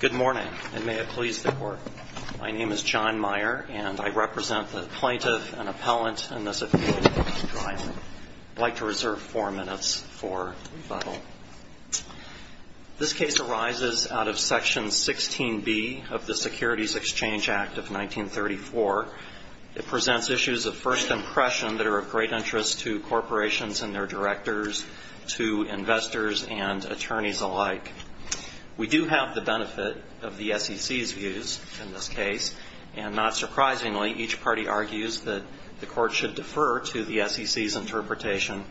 Good morning, and may it please the Court. My name is John Meyer, and I represent the plaintiff and appellant in this appeal. I'd like to reserve four minutes for rebuttal. This case arises out of Section 16b of the Securities Exchange Act of 1934. It presents issues of first impression that are of great interest to corporations and their directors, to investors and attorneys alike. We do have the benefit of the SEC's views in this case, and not surprisingly, each party argues that the Court should defer to the SEC's interpretation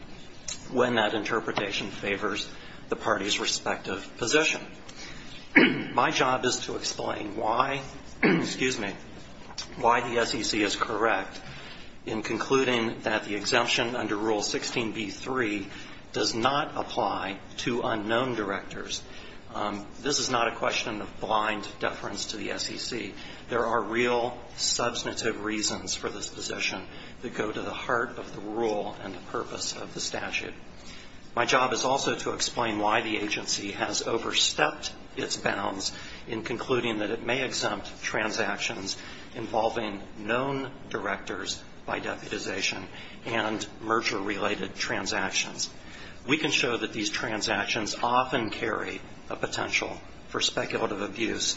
when that interpretation favors the party's respective position. My job is to explain why the SEC is correct in concluding that the exemption under Rule 16b-3 does not apply to unknown directors. This is not a question of blind deference to the SEC. There are real, substantive reasons for this position that go to the heart of the rule and the purpose of the statute. My job is also to explain why the agency has overstepped its bounds in concluding that it may exempt transactions involving known directors by deputization and merger-related transactions. We can show that these transactions often carry a potential for speculative abuse,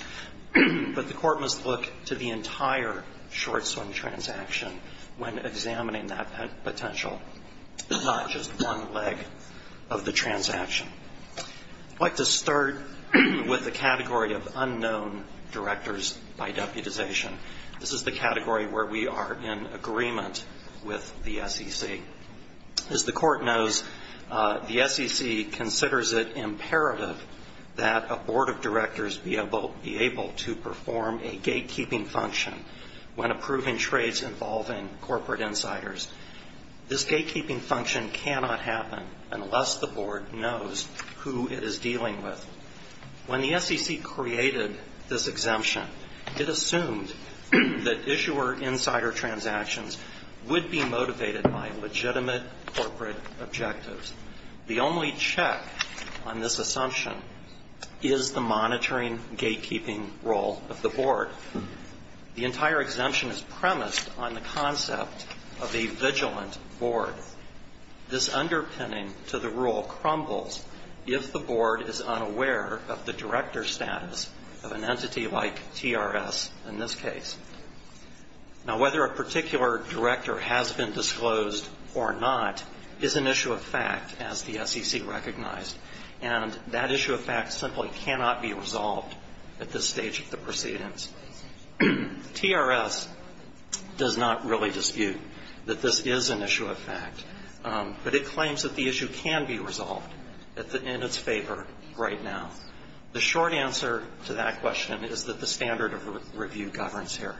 but the Court must look to the entire short-swing transaction when examining that potential, not just one leg of the transaction. I'd like to start with the category of unknown directors by deputization. This is the category where we are in agreement with the SEC. As the Court knows, the SEC considers it imperative that a Board of Directors be able to perform a gatekeeping function when approving trades involving corporate insiders. This gatekeeping function cannot happen unless the Board knows who it is dealing with. When the SEC created this exemption, it assumed that issuer-insider transactions would be motivated by legitimate corporate objectives. The only check on this assumption is the monitoring gatekeeping role of the Board. The entire exemption is premised on the concept of a vigilant Board. This underpinning to the rule crumbles if the Board is unaware of the director status of an entity like TRS in this case. Now, whether a particular director has been disclosed or not is an issue of fact, as the SEC recognized, and that issue of fact simply cannot be resolved at this stage of the proceedings. TRS does not really dispute that this is an issue of fact, but it claims that the issue can be resolved in its favor right now. The short answer to that question is that the standard of review governs here.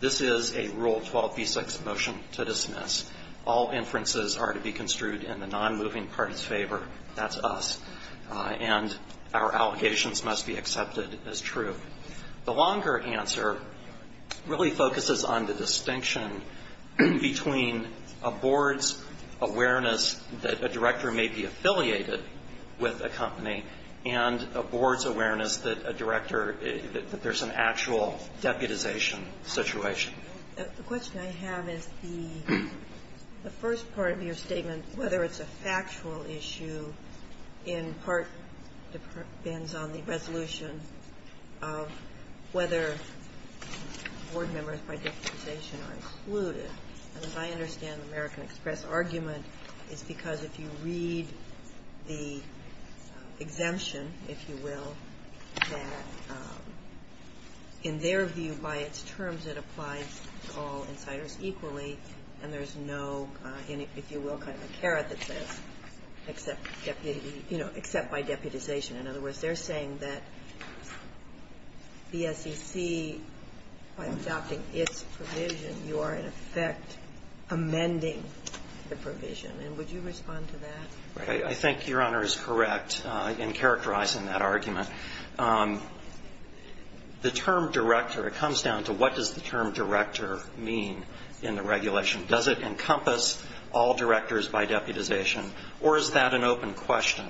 This is a Rule 12b6 motion to dismiss. All inferences are to be construed in the non-moving party's favor. That's us. And our allegations must be accepted as true. The longer answer really focuses on the distinction between a Board's awareness that a director may be affiliated with a company and a Board's awareness that a director, that there's an actual deputization situation. The question I have is the first part of your statement, whether it's a factual issue, in part depends on the resolution of whether Board members by deputization are excluded. And as I understand the American Express argument is because if you read the exemption, if you will, that in their view, by its terms, it applies to the Board. It applies to all insiders equally, and there's no, if you will, kind of a caret that says, except deputy, you know, except by deputization. In other words, they're saying that the SEC, by adopting its provision, you are in effect amending the provision. And would you respond to that? Right. I think Your Honor is correct in characterizing that argument. The term director, it comes down to what does the term director mean in the regulation? Does it encompass all directors by deputization, or is that an open question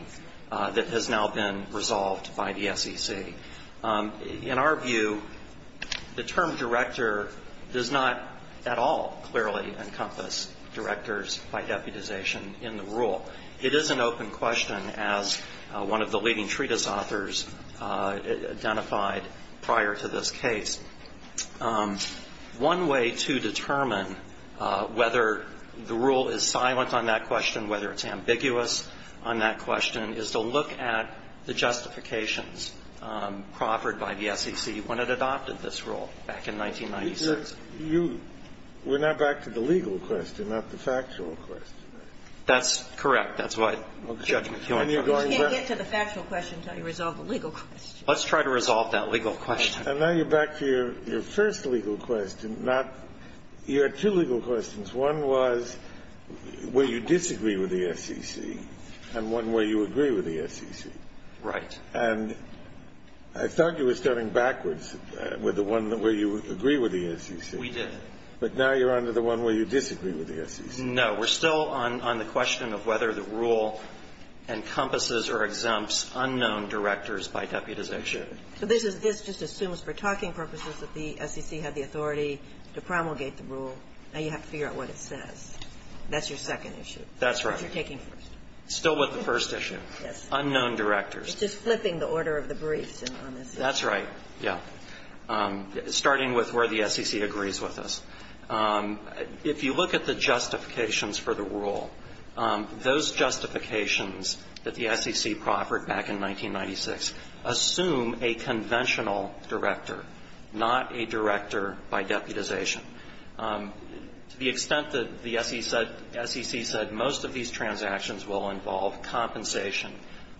that has now been resolved by the SEC? In our view, the term director does not at all clearly encompass directors by deputization in the rule. It is an open question, as one of the leading treatise authors identified prior to this case. One way to determine whether the rule is silent on that question, whether it's ambiguous on that question, is to look at the justifications proffered by the SEC when it adopted this rule back in 1996. You're not back to the legal question, not the factual question. That's correct. That's what Judge McKeown said. You can't get to the factual question until you resolve the legal question. Let's try to resolve that legal question. And now you're back to your first legal question, not you had two legal questions. One was, will you disagree with the SEC? And one, will you agree with the SEC? Right. And I thought you were starting backwards with the one where you agree with the SEC. We did. But now you're on to the one where you disagree with the SEC. No. We're still on the question of whether the rule encompasses or exempts unknown directors by deputization. So this is the first issue. This just assumes, for talking purposes, that the SEC had the authority to promulgate the rule. Now you have to figure out what it says. That's your second issue. That's right. But you're taking first. Still with the first issue. Yes. Unknown directors. It's just flipping the order of the briefs on this issue. That's right. Yeah. Starting with where the SEC agrees with us, if you look at the justifications for the rule, those justifications that the SEC proffered back in 1996 assume a conventional director, not a director by deputization. To the extent that the SEC said most of these transactions will involve compensation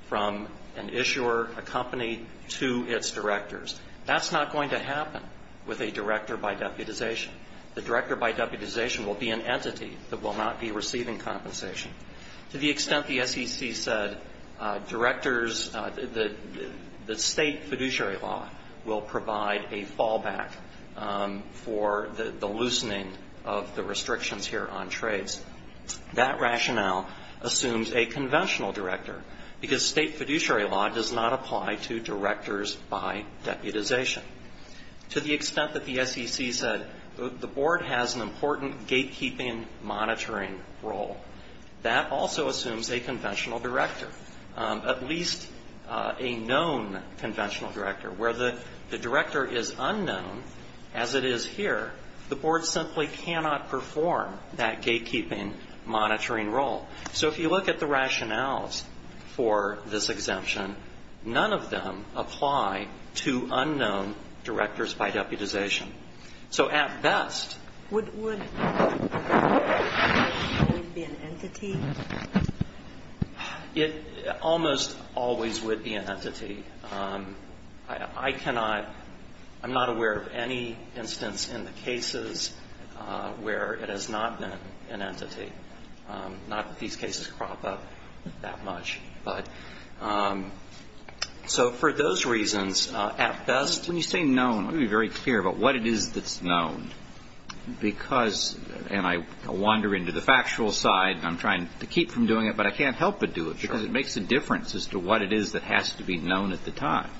from an issuer, a company, to its directors, that's not going to happen with a director by deputization. The director by deputization will be an entity that will not be receiving compensation. To the extent the SEC said directors, the state fiduciary law will provide a fallback for the loosening of the restrictions here on trades, that rationale assumes a conventional director because state fiduciary law does not apply to directors by deputization. To the extent that the SEC said the board has an important gatekeeping monitoring role, that also assumes a conventional director, at least a known conventional director. Where the director is unknown, as it is here, the board simply cannot perform that gatekeeping monitoring role. So if you look at the rationales for this exemption, none of them apply to unknown directors by deputization. So at best the director would always be an entity. It almost always would be an entity. I cannot, I'm not aware of any instance in the cases where it has not been an entity. Not that these cases crop up that much. So for those reasons, at best... When you say known, let me be very clear about what it is that's known. Because, and I wander into the factual side, and I'm trying to keep from doing it, but I can't help but do it because it makes a difference as to what it is that has to be known at the time.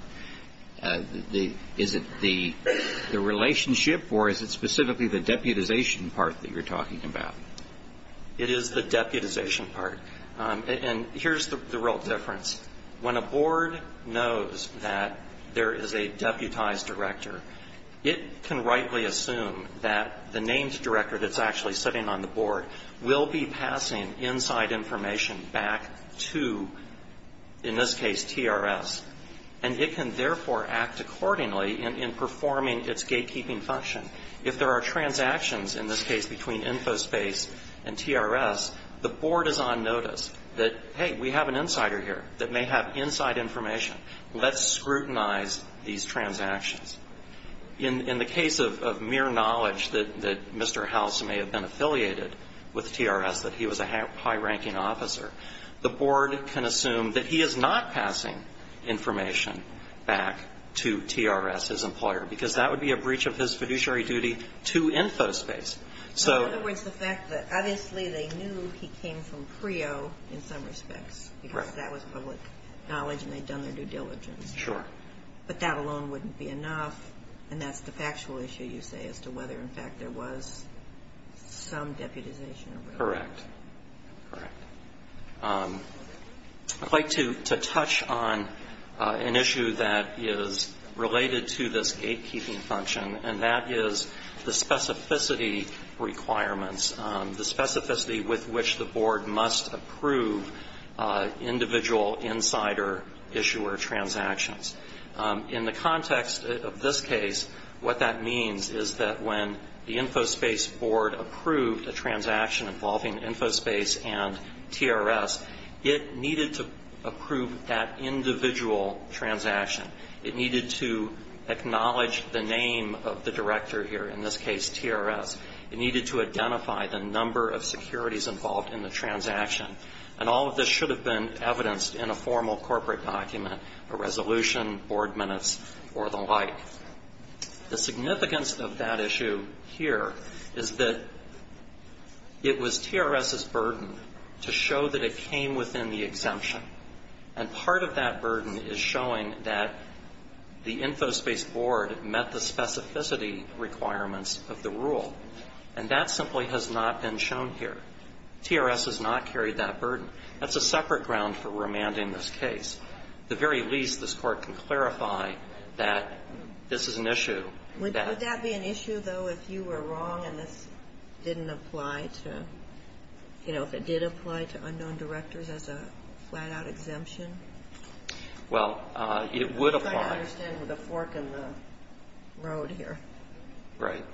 Is it the relationship, or is it specifically the deputization part that you're talking about? It is the deputization part. And here's the real difference. When a board knows that there is a deputized director, it can rightly assume that the named director that's actually sitting on the board will be passing inside information back to, in this case, TRS. And it can therefore act accordingly in performing its gatekeeping function. If there are transactions, in this case, between Infospace and TRS, the board is on notice that, hey, we have an insider here that may have inside information. Let's scrutinize these transactions. In the case of mere knowledge that Mr. House may have been affiliated with TRS, that he was a high-ranking officer, the board can assume that he is not passing information back to TRS, his employer, because that would be a breach of his fiduciary duty to Infospace. In other words, the fact that, obviously, they knew he came from CREO in some respects, because that was public knowledge and they'd done their due diligence. Sure. But that alone wouldn't be enough, and that's the factual issue, you say, as to whether, in fact, there was some deputization. Correct. Correct. I'd like to touch on an issue that is related to this gatekeeping function, and that is the specificity requirements, the specificity with which the board must approve individual insider issuer transactions. In the context of this case, what that means is that when the Infospace board approved a transaction involving Infospace and TRS, it needed to approve that individual transaction. It needed to acknowledge the name of the director here, in this case, TRS. It needed to identify the number of securities involved in the transaction. And all of this should have been evidenced in a formal corporate document, a resolution, board minutes, or the like. The significance of that issue here is that it was TRS's burden to show that it came within the exemption. And part of that burden is showing that the Infospace board met the specificity requirements of the rule. And that simply has not been shown here. TRS has not carried that burden. That's a separate ground for remanding this case. At the very least, this Court can clarify that this is an issue. Would that be an issue, though, if you were wrong and this didn't apply to, you know, if it did apply to unknown directors as a flat-out exemption? Well, it would apply. I'm trying to understand the fork in the road here. Right.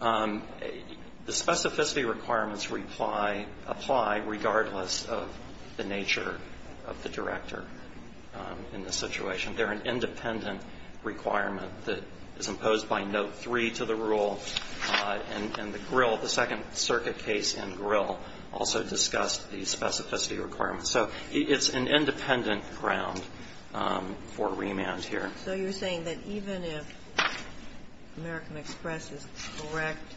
The specificity requirements apply regardless of the nature of the director in this situation. They're an independent requirement that is imposed by Note 3 to the rule. And the second circuit case in Grill also discussed the specificity requirements. So it's an independent ground for remand here. So you're saying that even if American Express is correct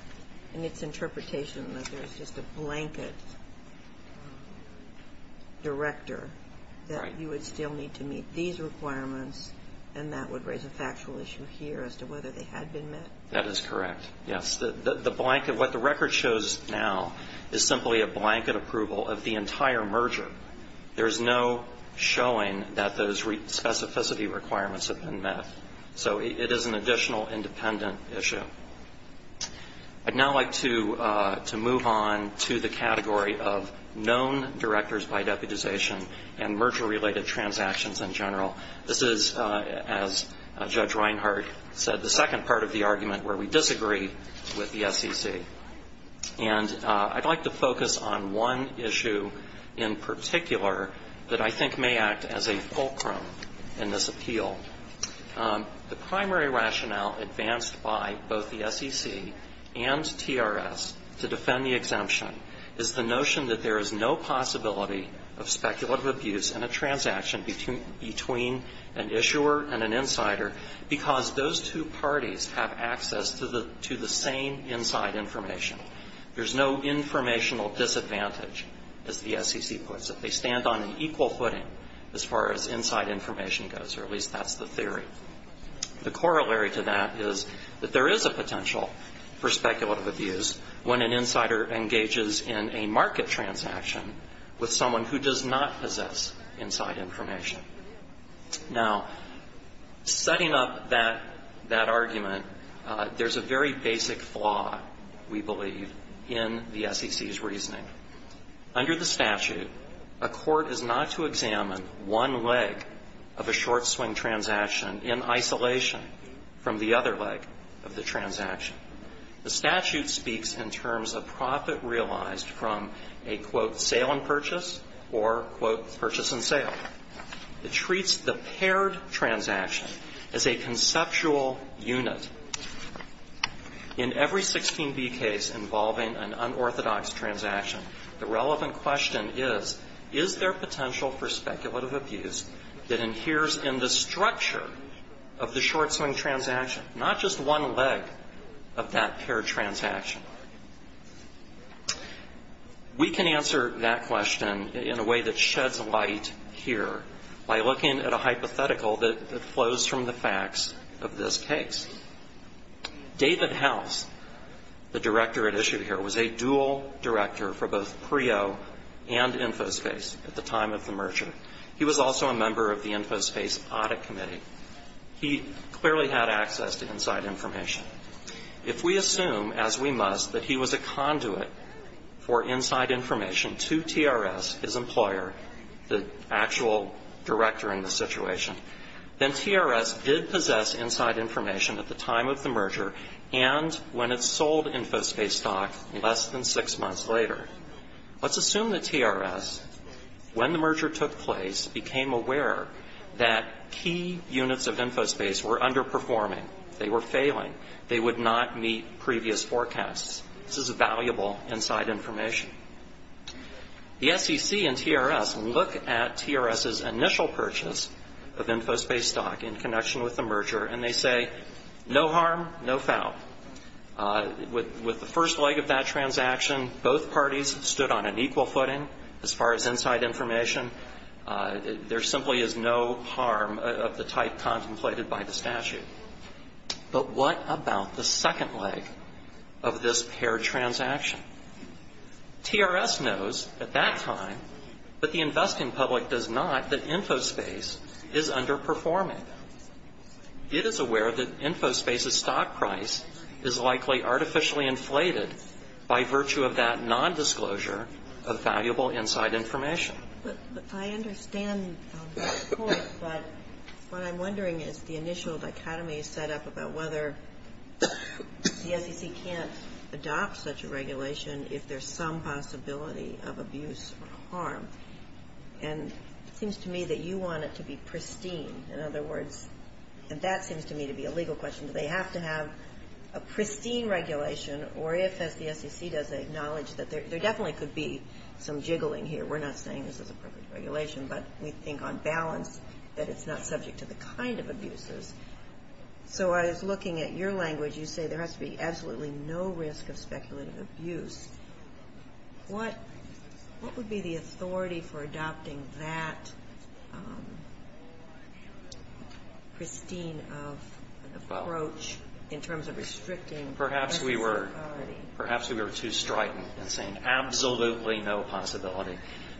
in its interpretation that there's just a blanket director, that you would still need to meet these requirements and that would raise a factual issue here as to whether they had been met? That is correct, yes. What the record shows now is simply a blanket approval of the So it is an additional independent issue. I'd now like to move on to the category of known directors by deputization and merger-related transactions in general. This is, as Judge Reinhart said, the second part of the argument where we disagree with the SEC. And I'd like to focus on one issue in particular that I think may act as a fulcrum in this appeal. The primary rationale advanced by both the SEC and TRS to defend the exemption is the notion that there is no possibility of speculative abuse in a transaction between an issuer and an insider because those two parties have access to the same inside information. There's no informational disadvantage, as the SEC puts it. They stand on an equal footing as far as inside information goes, or at least that's the theory. The corollary to that is that there is a potential for speculative abuse when an insider engages in a market transaction with someone who does not possess inside information. Now, setting up that argument, there's a very basic flaw, we believe, in the SEC's reasoning. Under the statute, a court is not to examine one leg of a short swing transaction in isolation from the other leg of the transaction. The statute speaks in terms of profit realized from a, quote, sale and purchase or, quote, purchase and sale. It treats the paired transaction as a conceptual unit. In every 16B case involving an unorthodox transaction, the relevant question is, is there potential for speculative abuse that adheres in the structure of the short swing transaction, not just one leg of that paired transaction? We can answer that question in a way that sheds light here by looking at a hypothetical that flows from the facts of this case. David House, the director at issue here, was a dual director for both PREO and InfoSpace at the time of the merger. He was also a member of the InfoSpace audit committee. He clearly had access to inside information. If we assume, as we must, that he was a conduit for inside information to TRS, his employer, the actual director in this situation, then TRS did possess inside information at the time of the merger and when it sold InfoSpace stock less than six months later. Let's assume that TRS, when the merger took place, became aware that key units of InfoSpace were underperforming. They were failing. They would not meet previous forecasts. This is valuable inside information. The SEC and TRS look at TRS's initial purchase of InfoSpace stock in connection with the merger and they say, no harm, no foul. With the first leg of that transaction, both parties stood on an equal footing as far as inside information. There simply is no harm of the type contemplated by the statute. But what about the second leg of this paired transaction? TRS knows at that time that the investing public does not that InfoSpace is underperforming. It is aware that InfoSpace's stock price is likely artificially inflated by virtue of that nondisclosure of valuable inside information. I understand that point, but what I'm wondering is the initial dichotomy set up about whether the SEC can't adopt such a regulation if there's some possibility of abuse or harm. And it seems to me that you want it to be pristine. In other words, and that seems to me to be a legal question, do they have to have a pristine regulation, or if, as the SEC does acknowledge, there definitely could be some jiggling here. We're not saying this is a perfect regulation, but we think on balance that it's not subject to the kind of abuses. So I was looking at your language. You say there has to be absolutely no risk of speculative abuse. What would be the authority for adopting that pristine approach in terms of restricting personal security? Perhaps we were too strident in saying absolutely no possibility.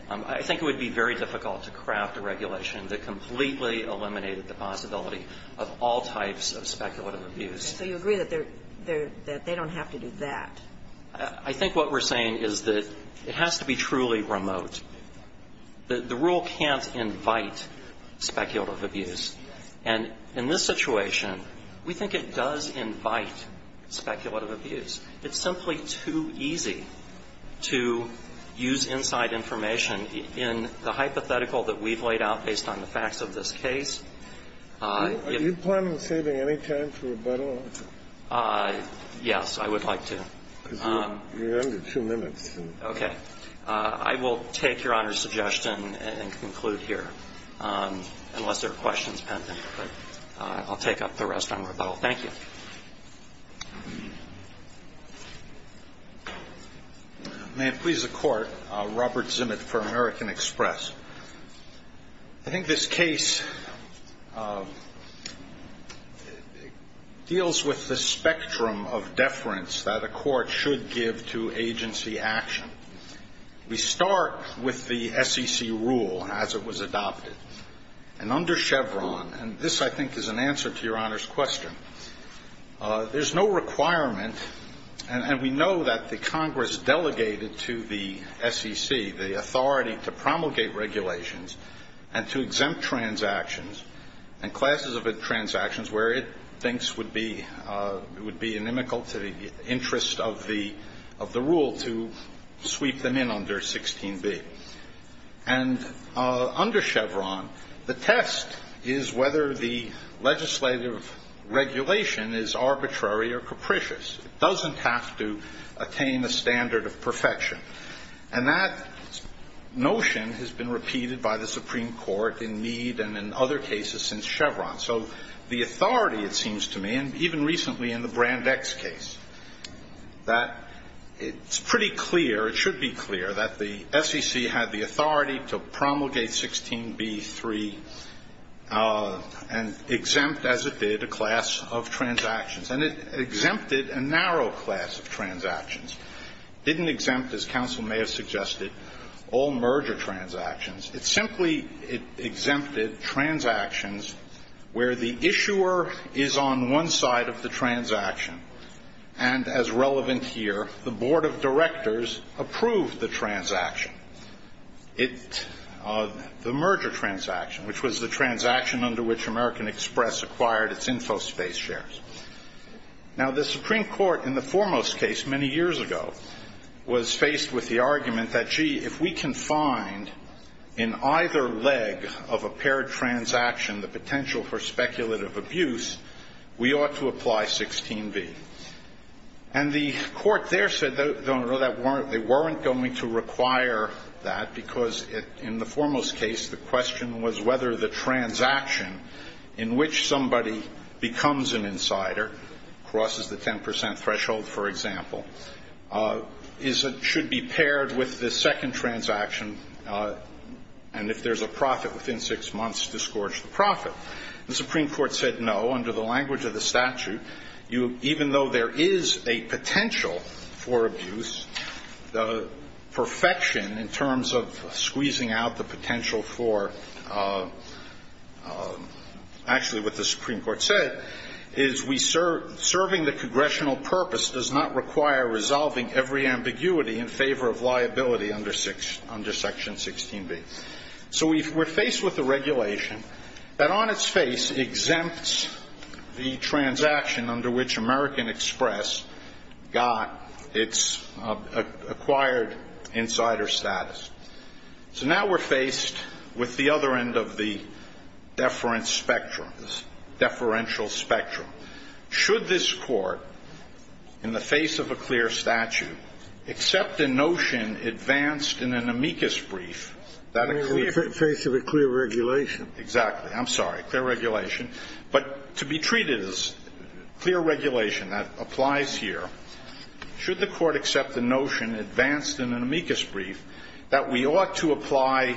I think it would be very difficult to craft a regulation that completely eliminated the possibility of all types of speculative abuse. So you agree that they don't have to do that? I think what we're saying is that it has to be truly remote. The rule can't invite speculative abuse. And in this situation, we think it does invite speculative abuse. It's simply too easy to use inside information in the hypothetical that we've laid out based on the facts of this case. Are you planning on saving any time for rebuttal? Yes, I would like to. Because you're under two minutes. Okay. I will take Your Honor's suggestion and conclude here, unless there are questions pending. I'll take up the rest on rebuttal. Thank you. May it please the Court. Robert Zimmit for American Express. I think this case deals with the spectrum of deference that a court should give to agency action. We start with the SEC rule as it was adopted. And under Chevron, and this I think is an answer to Your Honor's question, there's no requirement, and we know that the Congress delegated to the SEC the authority to promulgate regulations and to exempt transactions and classes of transactions where it thinks would be inimical to the interest of the rule to sweep them in under 16b. And under Chevron, the test is whether the legislative regulation is arbitrary or capricious. It doesn't have to attain a standard of perfection. And that notion has been repeated by the Supreme Court in Meade and in other cases since Chevron. So the authority, it seems to me, and even recently in the Brand X case, that it's pretty clear, it should be clear, that the SEC had the authority to promulgate 16b.3 and exempt, as it did, a class of transactions. And it exempted a narrow class of transactions. It didn't exempt, as counsel may have suggested, all merger transactions. It simply exempted transactions where the issuer is on one side of the transaction. And, as relevant here, the board of directors approved the transaction, the merger transaction, which was the transaction under which American Express acquired its InfoSpace shares. Now, the Supreme Court, in the foremost case many years ago, was faced with the argument that, gee, if we can find in either leg of a paired transaction the potential for speculative abuse, we ought to apply 16b. And the court there said, they weren't going to require that because, in the foremost case, the question was whether the transaction in which somebody becomes an insider, crosses the 10% threshold, for example, should be paired with the second transaction and, if there's a profit within six months, disgorge the profit. The Supreme Court said no. Under the language of the statute, even though there is a potential for abuse, the perfection, in terms of squeezing out the potential for, actually, what the Supreme Court said, is serving the congressional purpose does not require resolving every ambiguity in favor of liability under Section 16b. So we're faced with a regulation that, on its face, exempts the transaction under which American Express got its acquired insider status. So now we're faced with the other end of the deferential spectrum. Should this court, in the face of a clear statute, accept a notion advanced in an amicus brief In the face of a clear regulation. Exactly. I'm sorry. Clear regulation. But to be treated as clear regulation that applies here, should the court accept the notion advanced in an amicus brief that we ought to apply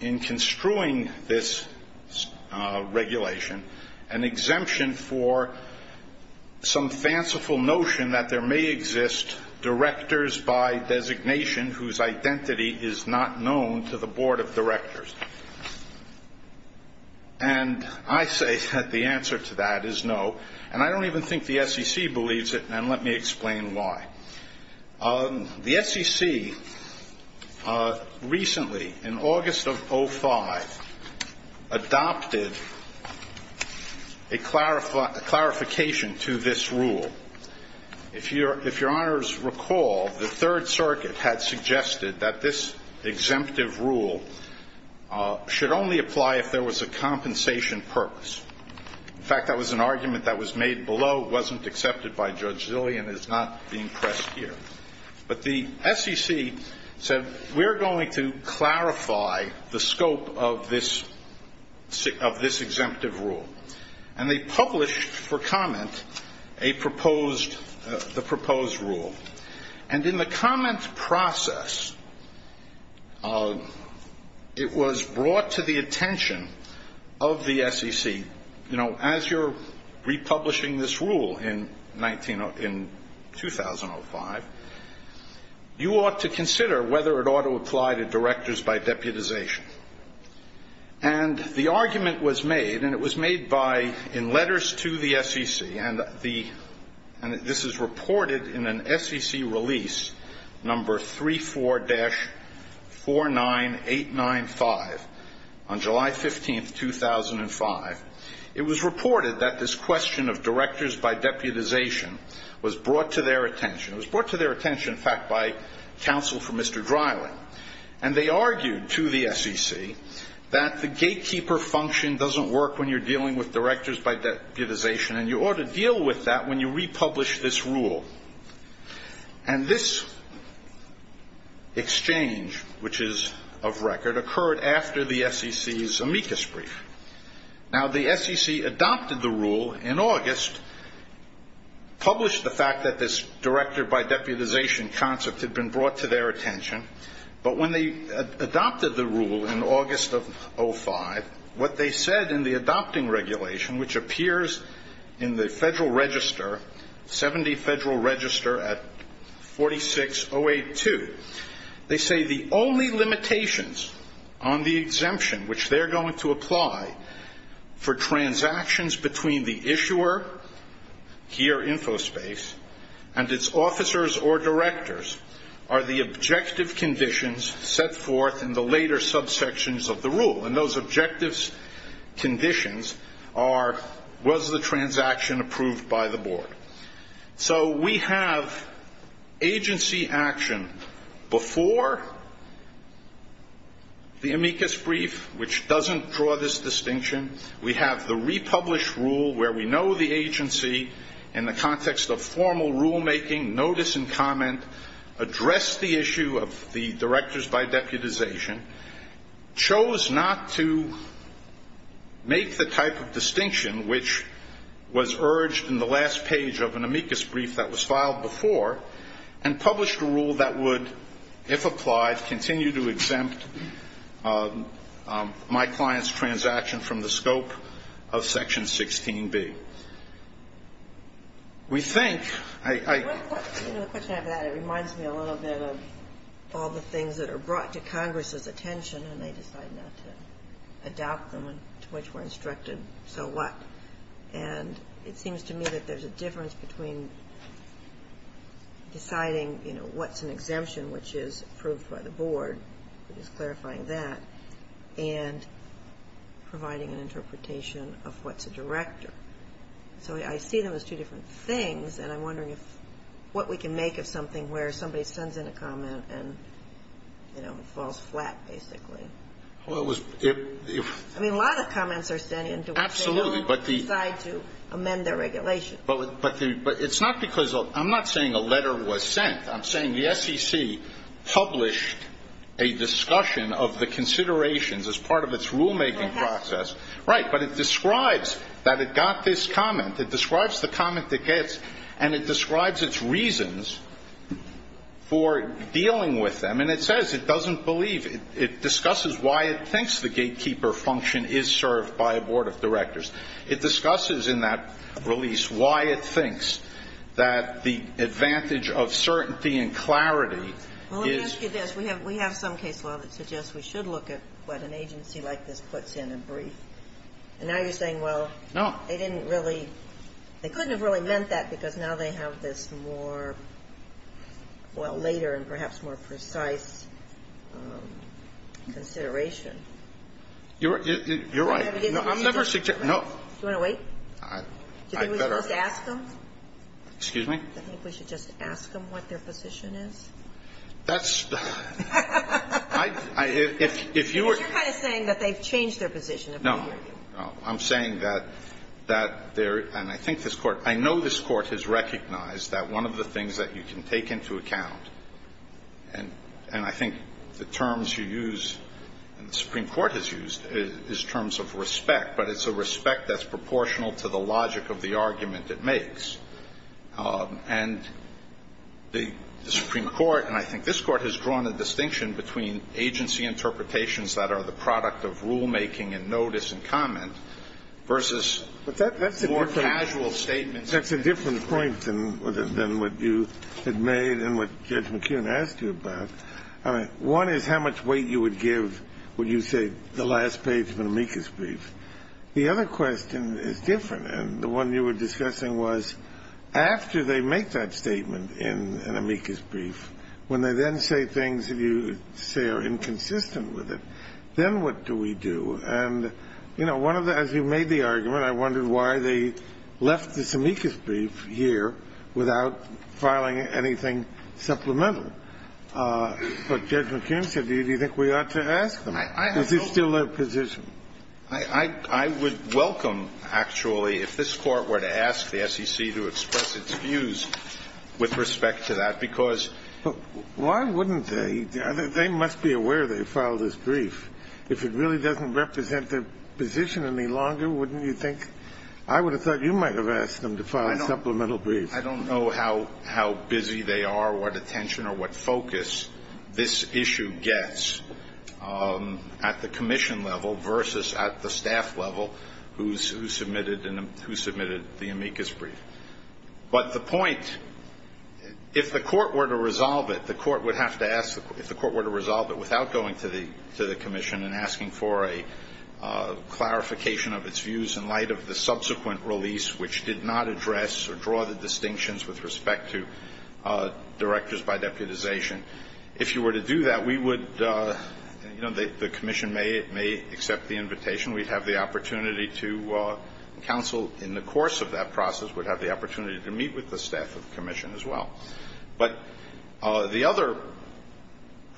in construing this regulation an exemption for some fanciful notion that there may exist directors by designation whose identity is not known to the board of directors? And I say that the answer to that is no. And I don't even think the SEC believes it and let me explain why. The SEC, recently, in August of 2005, adopted a clarification to this rule. If your honors recall, the Third Circuit had suggested that this exemptive rule should only apply if there was a compensation purpose. In fact, that was an argument that was made below, wasn't accepted by Judge Zillian, is not being pressed here. But the SEC said we're going to clarify the scope of this of this exemptive rule. And they published, for comment, a proposed, the proposed rule. And in the comment process, it was brought to the attention of the SEC. You know, as you're republishing this rule in 2005, you ought to consider whether it ought to apply to directors by deputization. And the argument was made and it was made by in letters to the SEC and this is reported in an SEC release number 34-49895 on July 15, 2005. It was reported that this question of directors by deputization was brought to their attention. It was brought to their attention, in fact, by counsel for Mr. Dryling. And they argued to the SEC that the gatekeeper function doesn't work when you're dealing with directors by deputization and you ought to deal with that when you republish this rule. And this exchange, which is of record, occurred after the SEC's amicus brief. Now the SEC adopted the rule in August, published the fact that this director by deputization concept had been brought to their attention, but when they adopted the rule in August of 2005, what they said in the adopting regulation, which appears in the Federal Register 70 Federal Register at 46082, they say the only limitations on the exemption which they're going to apply for transactions between the issuer here, Infospace, and its officers or directors are the objective conditions set forth in the later subsections of the rule. And those objective conditions are, was the transaction approved by the board? So we have agency action before the amicus brief, which doesn't draw this distinction, we have the republish rule where we know the agency in the context of formal rulemaking, notice and comment, address the issue of the directors by deputization, chose not to make the type of distinction which was urged in the last page of an amicus brief that was filed before and published a rule that would if applied, continue to exempt my client's transaction from the scope of Section 16B. We think I... It reminds me a little bit of all the things that are brought to Congress's attention and they decide not to adopt them and to which we're instructed so what? And it seems to me that there's a difference between deciding, you know, what's an exemption which is approved by the board which is clarifying that and providing an interpretation of what's a director. So I see them as two different things and I'm wondering what we can make of something where somebody sends in a comment and you know, it falls flat basically. I mean a lot of comments are sent in to which they don't decide to amend their regulation. But it's not because, I'm not saying a letter was sent, I'm saying the SEC published a discussion of the considerations as part of its rulemaking process right, but it describes that it got this comment, it describes the comment it gets and it describes its reasons for dealing with them and it says it doesn't believe, it discusses why it thinks the gatekeeper function is served by a board of directors. It discusses in that release why it thinks that the advantage of certainty and clarity Well let me ask you this, we have some case law that suggests we should look at what an agency like this puts in a brief and now you're saying, well, they didn't really, they couldn't have really meant that because now they have this more, well later and perhaps more precise consideration. You're right. I'm never suggesting Do you want to wait? Do you think we should just ask them? Excuse me? Do you think we should just ask them what their position is? That's, I If you were You're kind of saying that they've changed their position. No, I'm saying that that there, and I think this court I know this court has recognized that one of the things that you can take into account and I think the terms you use and the Supreme Court has used is terms of respect, but it's a respect that's proportional to the logic of the argument it makes and the Supreme Court, and I think this court has drawn a distinction between agency interpretations that are the product of rulemaking and notice and comment, versus more casual statements That's a different point than what you had made and what Judge McKeon asked you about One is how much weight you would give when you say the last page of an amicus brief The other question is different and the one you were discussing was after they make that statement in an amicus brief when they then say things that you say are inconsistent with it then what do we do? As you made the argument I wondered why they left this amicus brief here without filing anything supplemental But Judge McKeon said do you think we ought to ask them? Is this still their position? I would welcome, actually if this court were to ask the SEC to express its views with respect to that Why wouldn't they? They must be aware they filed this brief If it really doesn't represent their position any longer wouldn't you think? I would have thought you might have asked them to file a supplemental brief I don't know how busy they are, what attention or what focus this issue gets at the commission level versus at the staff level who submitted the amicus brief But the point if the court were to resolve it the court would have to ask without going to the commission and asking for a clarification of its views in light of the subsequent release which did not address or draw the distinctions with respect to directors by deputization if you were to do that the commission may we'd have the opportunity in the course of that process to meet with the staff of the commission but the other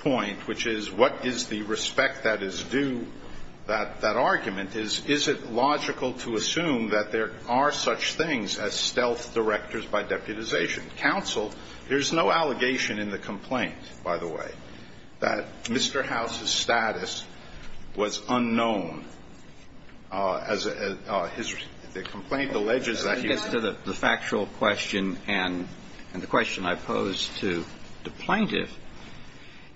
point which is what is the respect that is due that argument is is it logical to assume that there are such things as stealth directors by deputization there's no allegation in the complaint by the way that Mr. House's status was unknown as the complaint alleges to the factual question and the question I posed to the plaintiff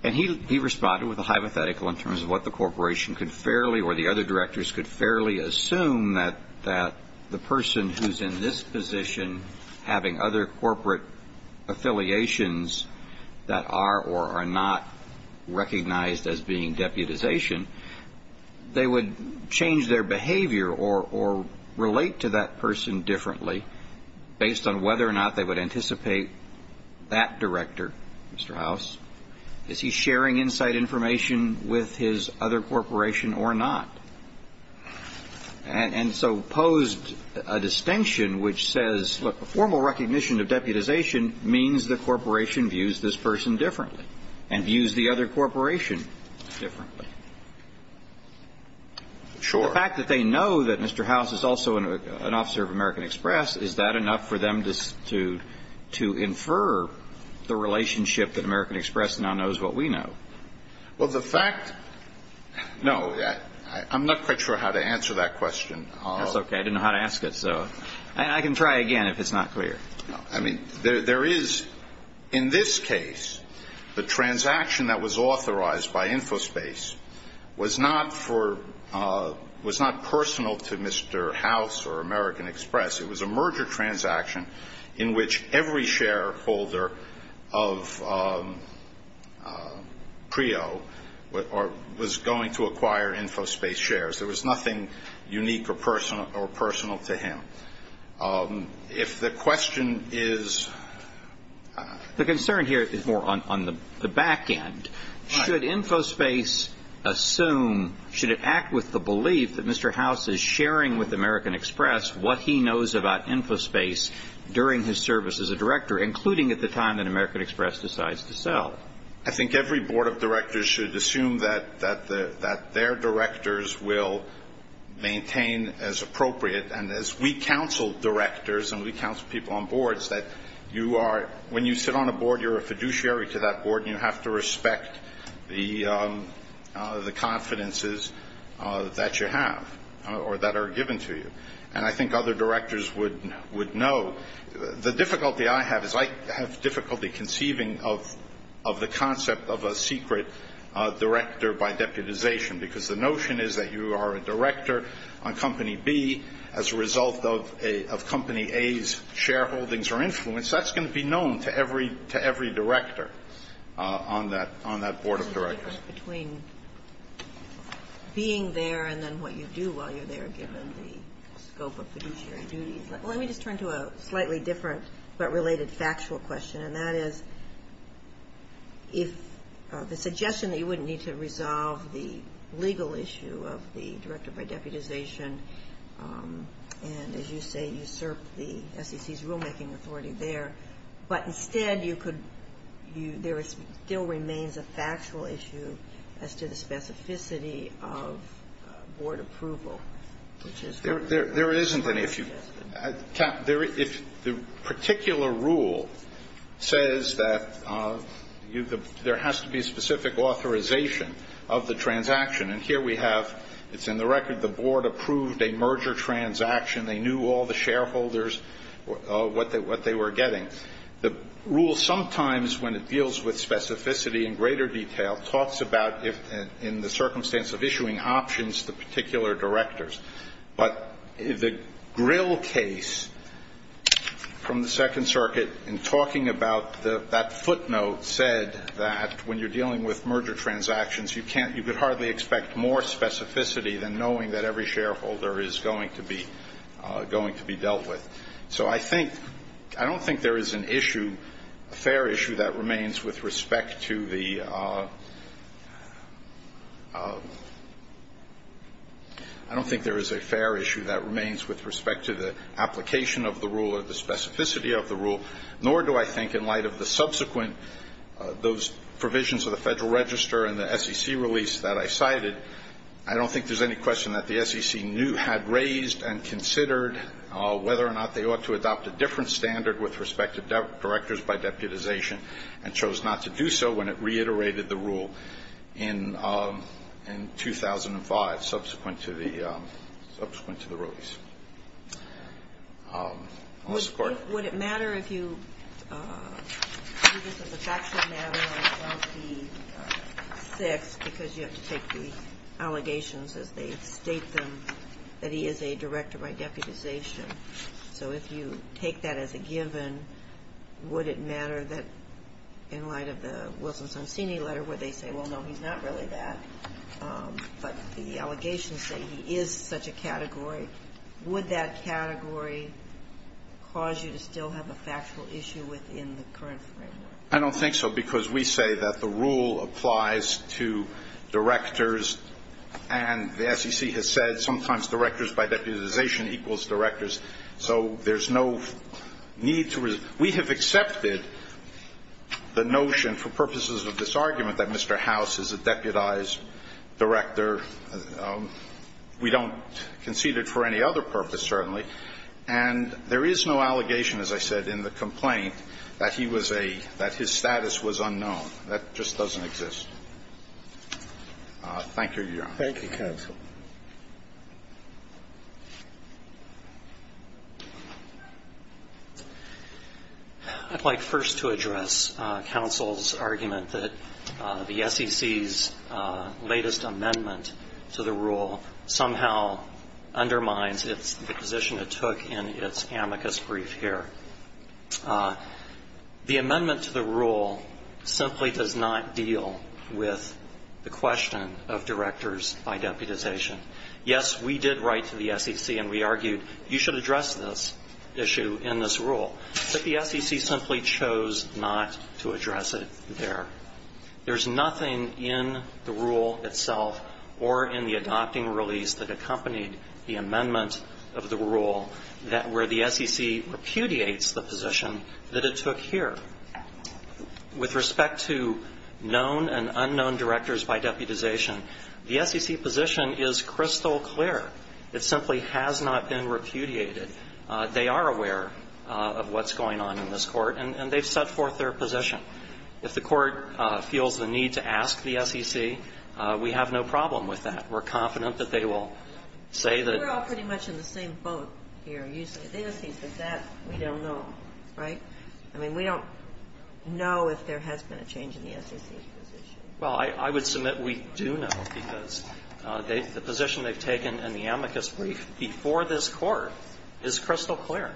and he responded with a hypothetical in terms of what the corporation could fairly or the other directors could fairly assume that the person who's in this position having other corporate affiliations that are or are not recognized as being deputization they would change their behavior or relate to that person differently based on whether or not they would anticipate that director Mr. House is he sharing inside information with his other corporation or not and so posed a distinction which says formal recognition of deputization means the corporation views this person differently and views the other corporation differently sure the fact that they know that Mr. House is also an officer of American Express is that enough for them to to infer the relationship that American Express now knows what we know well the fact I'm not quite sure how to answer that question I didn't know how to ask it so I can try again if it's not clear there is in this case the transaction that was was not for was not personal to Mr. House or American Express it was a merger transaction in which every shareholder of CREO was going to acquire InfoSpace shares there was nothing unique or personal to him if the question is the concern here is more on the back end should InfoSpace assume, should it act with the belief that Mr. House is sharing with American Express what he knows about InfoSpace during his service as a director including at the time that American Express decides to sell I think every board of directors should assume that their directors will maintain as appropriate and as we counsel directors and we counsel people on boards when you sit on a board you are a the confidences that you have or that are given to you and I think other directors would know the difficulty I have is I have difficulty conceiving of the concept of a secret director by deputization because the notion is that you are a director on company B as a result of company A's shareholdings or influence that's going to be known to every director on that board of directors being there and then what you do while you are there given the scope of fiduciary duties let me just turn to a slightly different but related factual question and that is if the suggestion that you wouldn't need to resolve the legal issue of the director by deputization and as you say usurp the SEC's rule making authority there but instead you could there still remains a factual issue as to the specificity of board approval there isn't any if the particular rule says that there has to be specific authorization of the transaction and here we have it's in the record the board approved a merger transaction they knew all the shareholders what they were getting the rule sometimes when it deals with specificity in greater detail talks about in the circumstance of issuing options the particular directors but the grill case from the second circuit in talking about that footnote said that when you are dealing with merger transactions you can't you could hardly expect more specificity than knowing that every shareholder is going to be going to be dealt with so I think I don't think there is an issue a fair issue that remains with respect to the I don't think there is a fair issue that remains with respect to the application of the rule or the specificity of the rule nor do I think in light of the subsequent those provisions of the federal register and the SEC release that I cited I don't think there is any question that the SEC had raised and considered whether or not they ought to adopt a different standard with respect to directors by deputization and chose not to do so when it reiterated the rule in 2005 subsequent to the subsequent to the release Would it matter if you do this as a factual matter and not be fixed because you have to take the allegations as they state them that he is a director by deputization so if you take that as a given would it matter that in light of the Wilson-Sonsini letter would they say well no he's not really that but the allegations say he is such a category would that category within the current framework I don't think so because we say that the rule applies to directors and the SEC has said sometimes directors by deputization equals directors so there's no need we have accepted the notion for purposes of this argument that Mr. House is a deputized director we don't concede it for any other purpose certainly and there is no allegation as I said in the complaint that his status was unknown that just doesn't exist thank you your honor thank you counsel I'd like first to address counsel's argument that the SEC's latest amendment to the rule somehow undermines the position it took in its amicus brief here the amendment to the rule simply does not deal with the question of directors by deputization yes we did write to the SEC and we argued you should address this issue in this rule but the SEC simply chose not to address it there there's nothing in the rule itself or in the adopting release that accompanied the amendment of the rule where the SEC repudiates the position that it took here with respect to known and unknown directors by deputization the SEC position is crystal clear it simply has not been repudiated they are aware of what's going on in this court and they've set forth their position if the court feels the need to ask the SEC we have no problem with that we're confident that they will we're all pretty much in the same boat here we don't know we don't know if there has been a change in the SEC well I would submit we do know because the position they've taken in the amicus brief before this court is crystal clear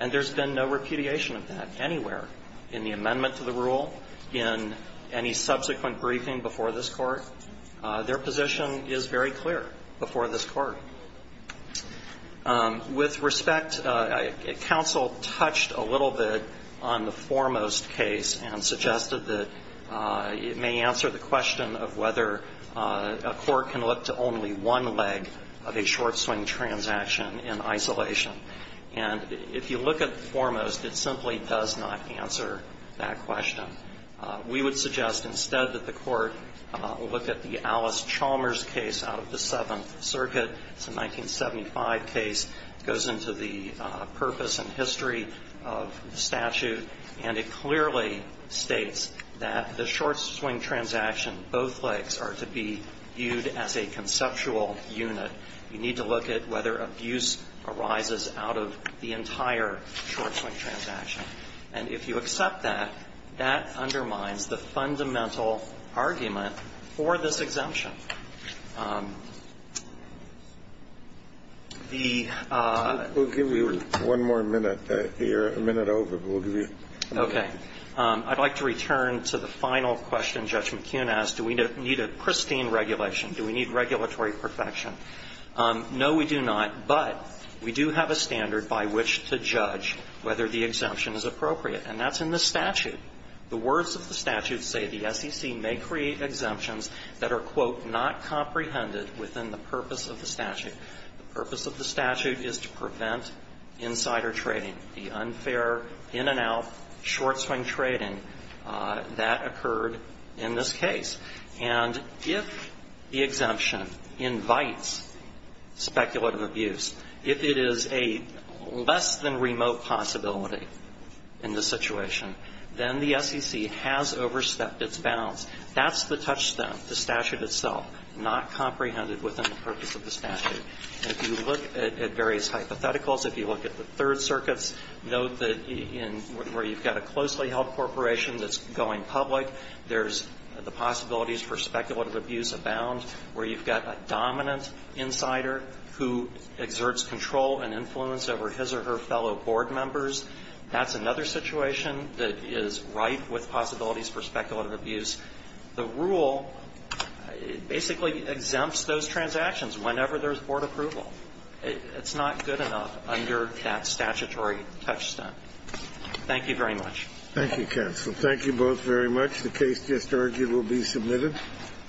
and there's been no repudiation of that anywhere in the amendment to the rule in any subsequent briefing before this court their position is very clear before this court with respect counsel touched a little bit on the foremost case and suggested that it may answer the question of whether a court can look to only one leg of a short swing transaction in isolation and if you look at the foremost it simply does not answer that question we would suggest instead that the court look at the Alice Chalmers case out of the 7th circuit it's a 1975 case goes into the purpose and history of the statute and it clearly states that the short swing transaction both legs are to be viewed as a conceptual unit you need to look at whether abuse arises out of the entire short swing transaction and if you accept that that undermines the fundamental argument for this exemption we'll give you one more minute you're a minute over I'd like to return to the final question Judge McKeon asked do we need a pristine regulation do we need regulatory perfection no we do not but we do have a standard by which to judge whether the exemption is the words of the statute say the SEC may create exemptions that are quote not comprehended within the purpose of the statute the purpose of the statute is to prevent insider trading the unfair in and out short swing trading that occurred in this case and if the exemption invites speculative abuse if it is a less than remote possibility in this situation then the SEC has overstepped its bounds that's the touchstone the statute itself not comprehended within the purpose of the statute if you look at various hypotheticals if you look at the third circuits note that where you've got a closely held corporation that's going public there's the possibilities for speculative abuse abound where you've got a dominant insider who exerts control and influence over his or her fellow board members that's another situation that is right with possibilities for speculative abuse the rule basically exempts those transactions whenever there's board approval it's not good enough under that statutory touchstone thank you very much thank you counsel thank you both very much the case just argued will be submitted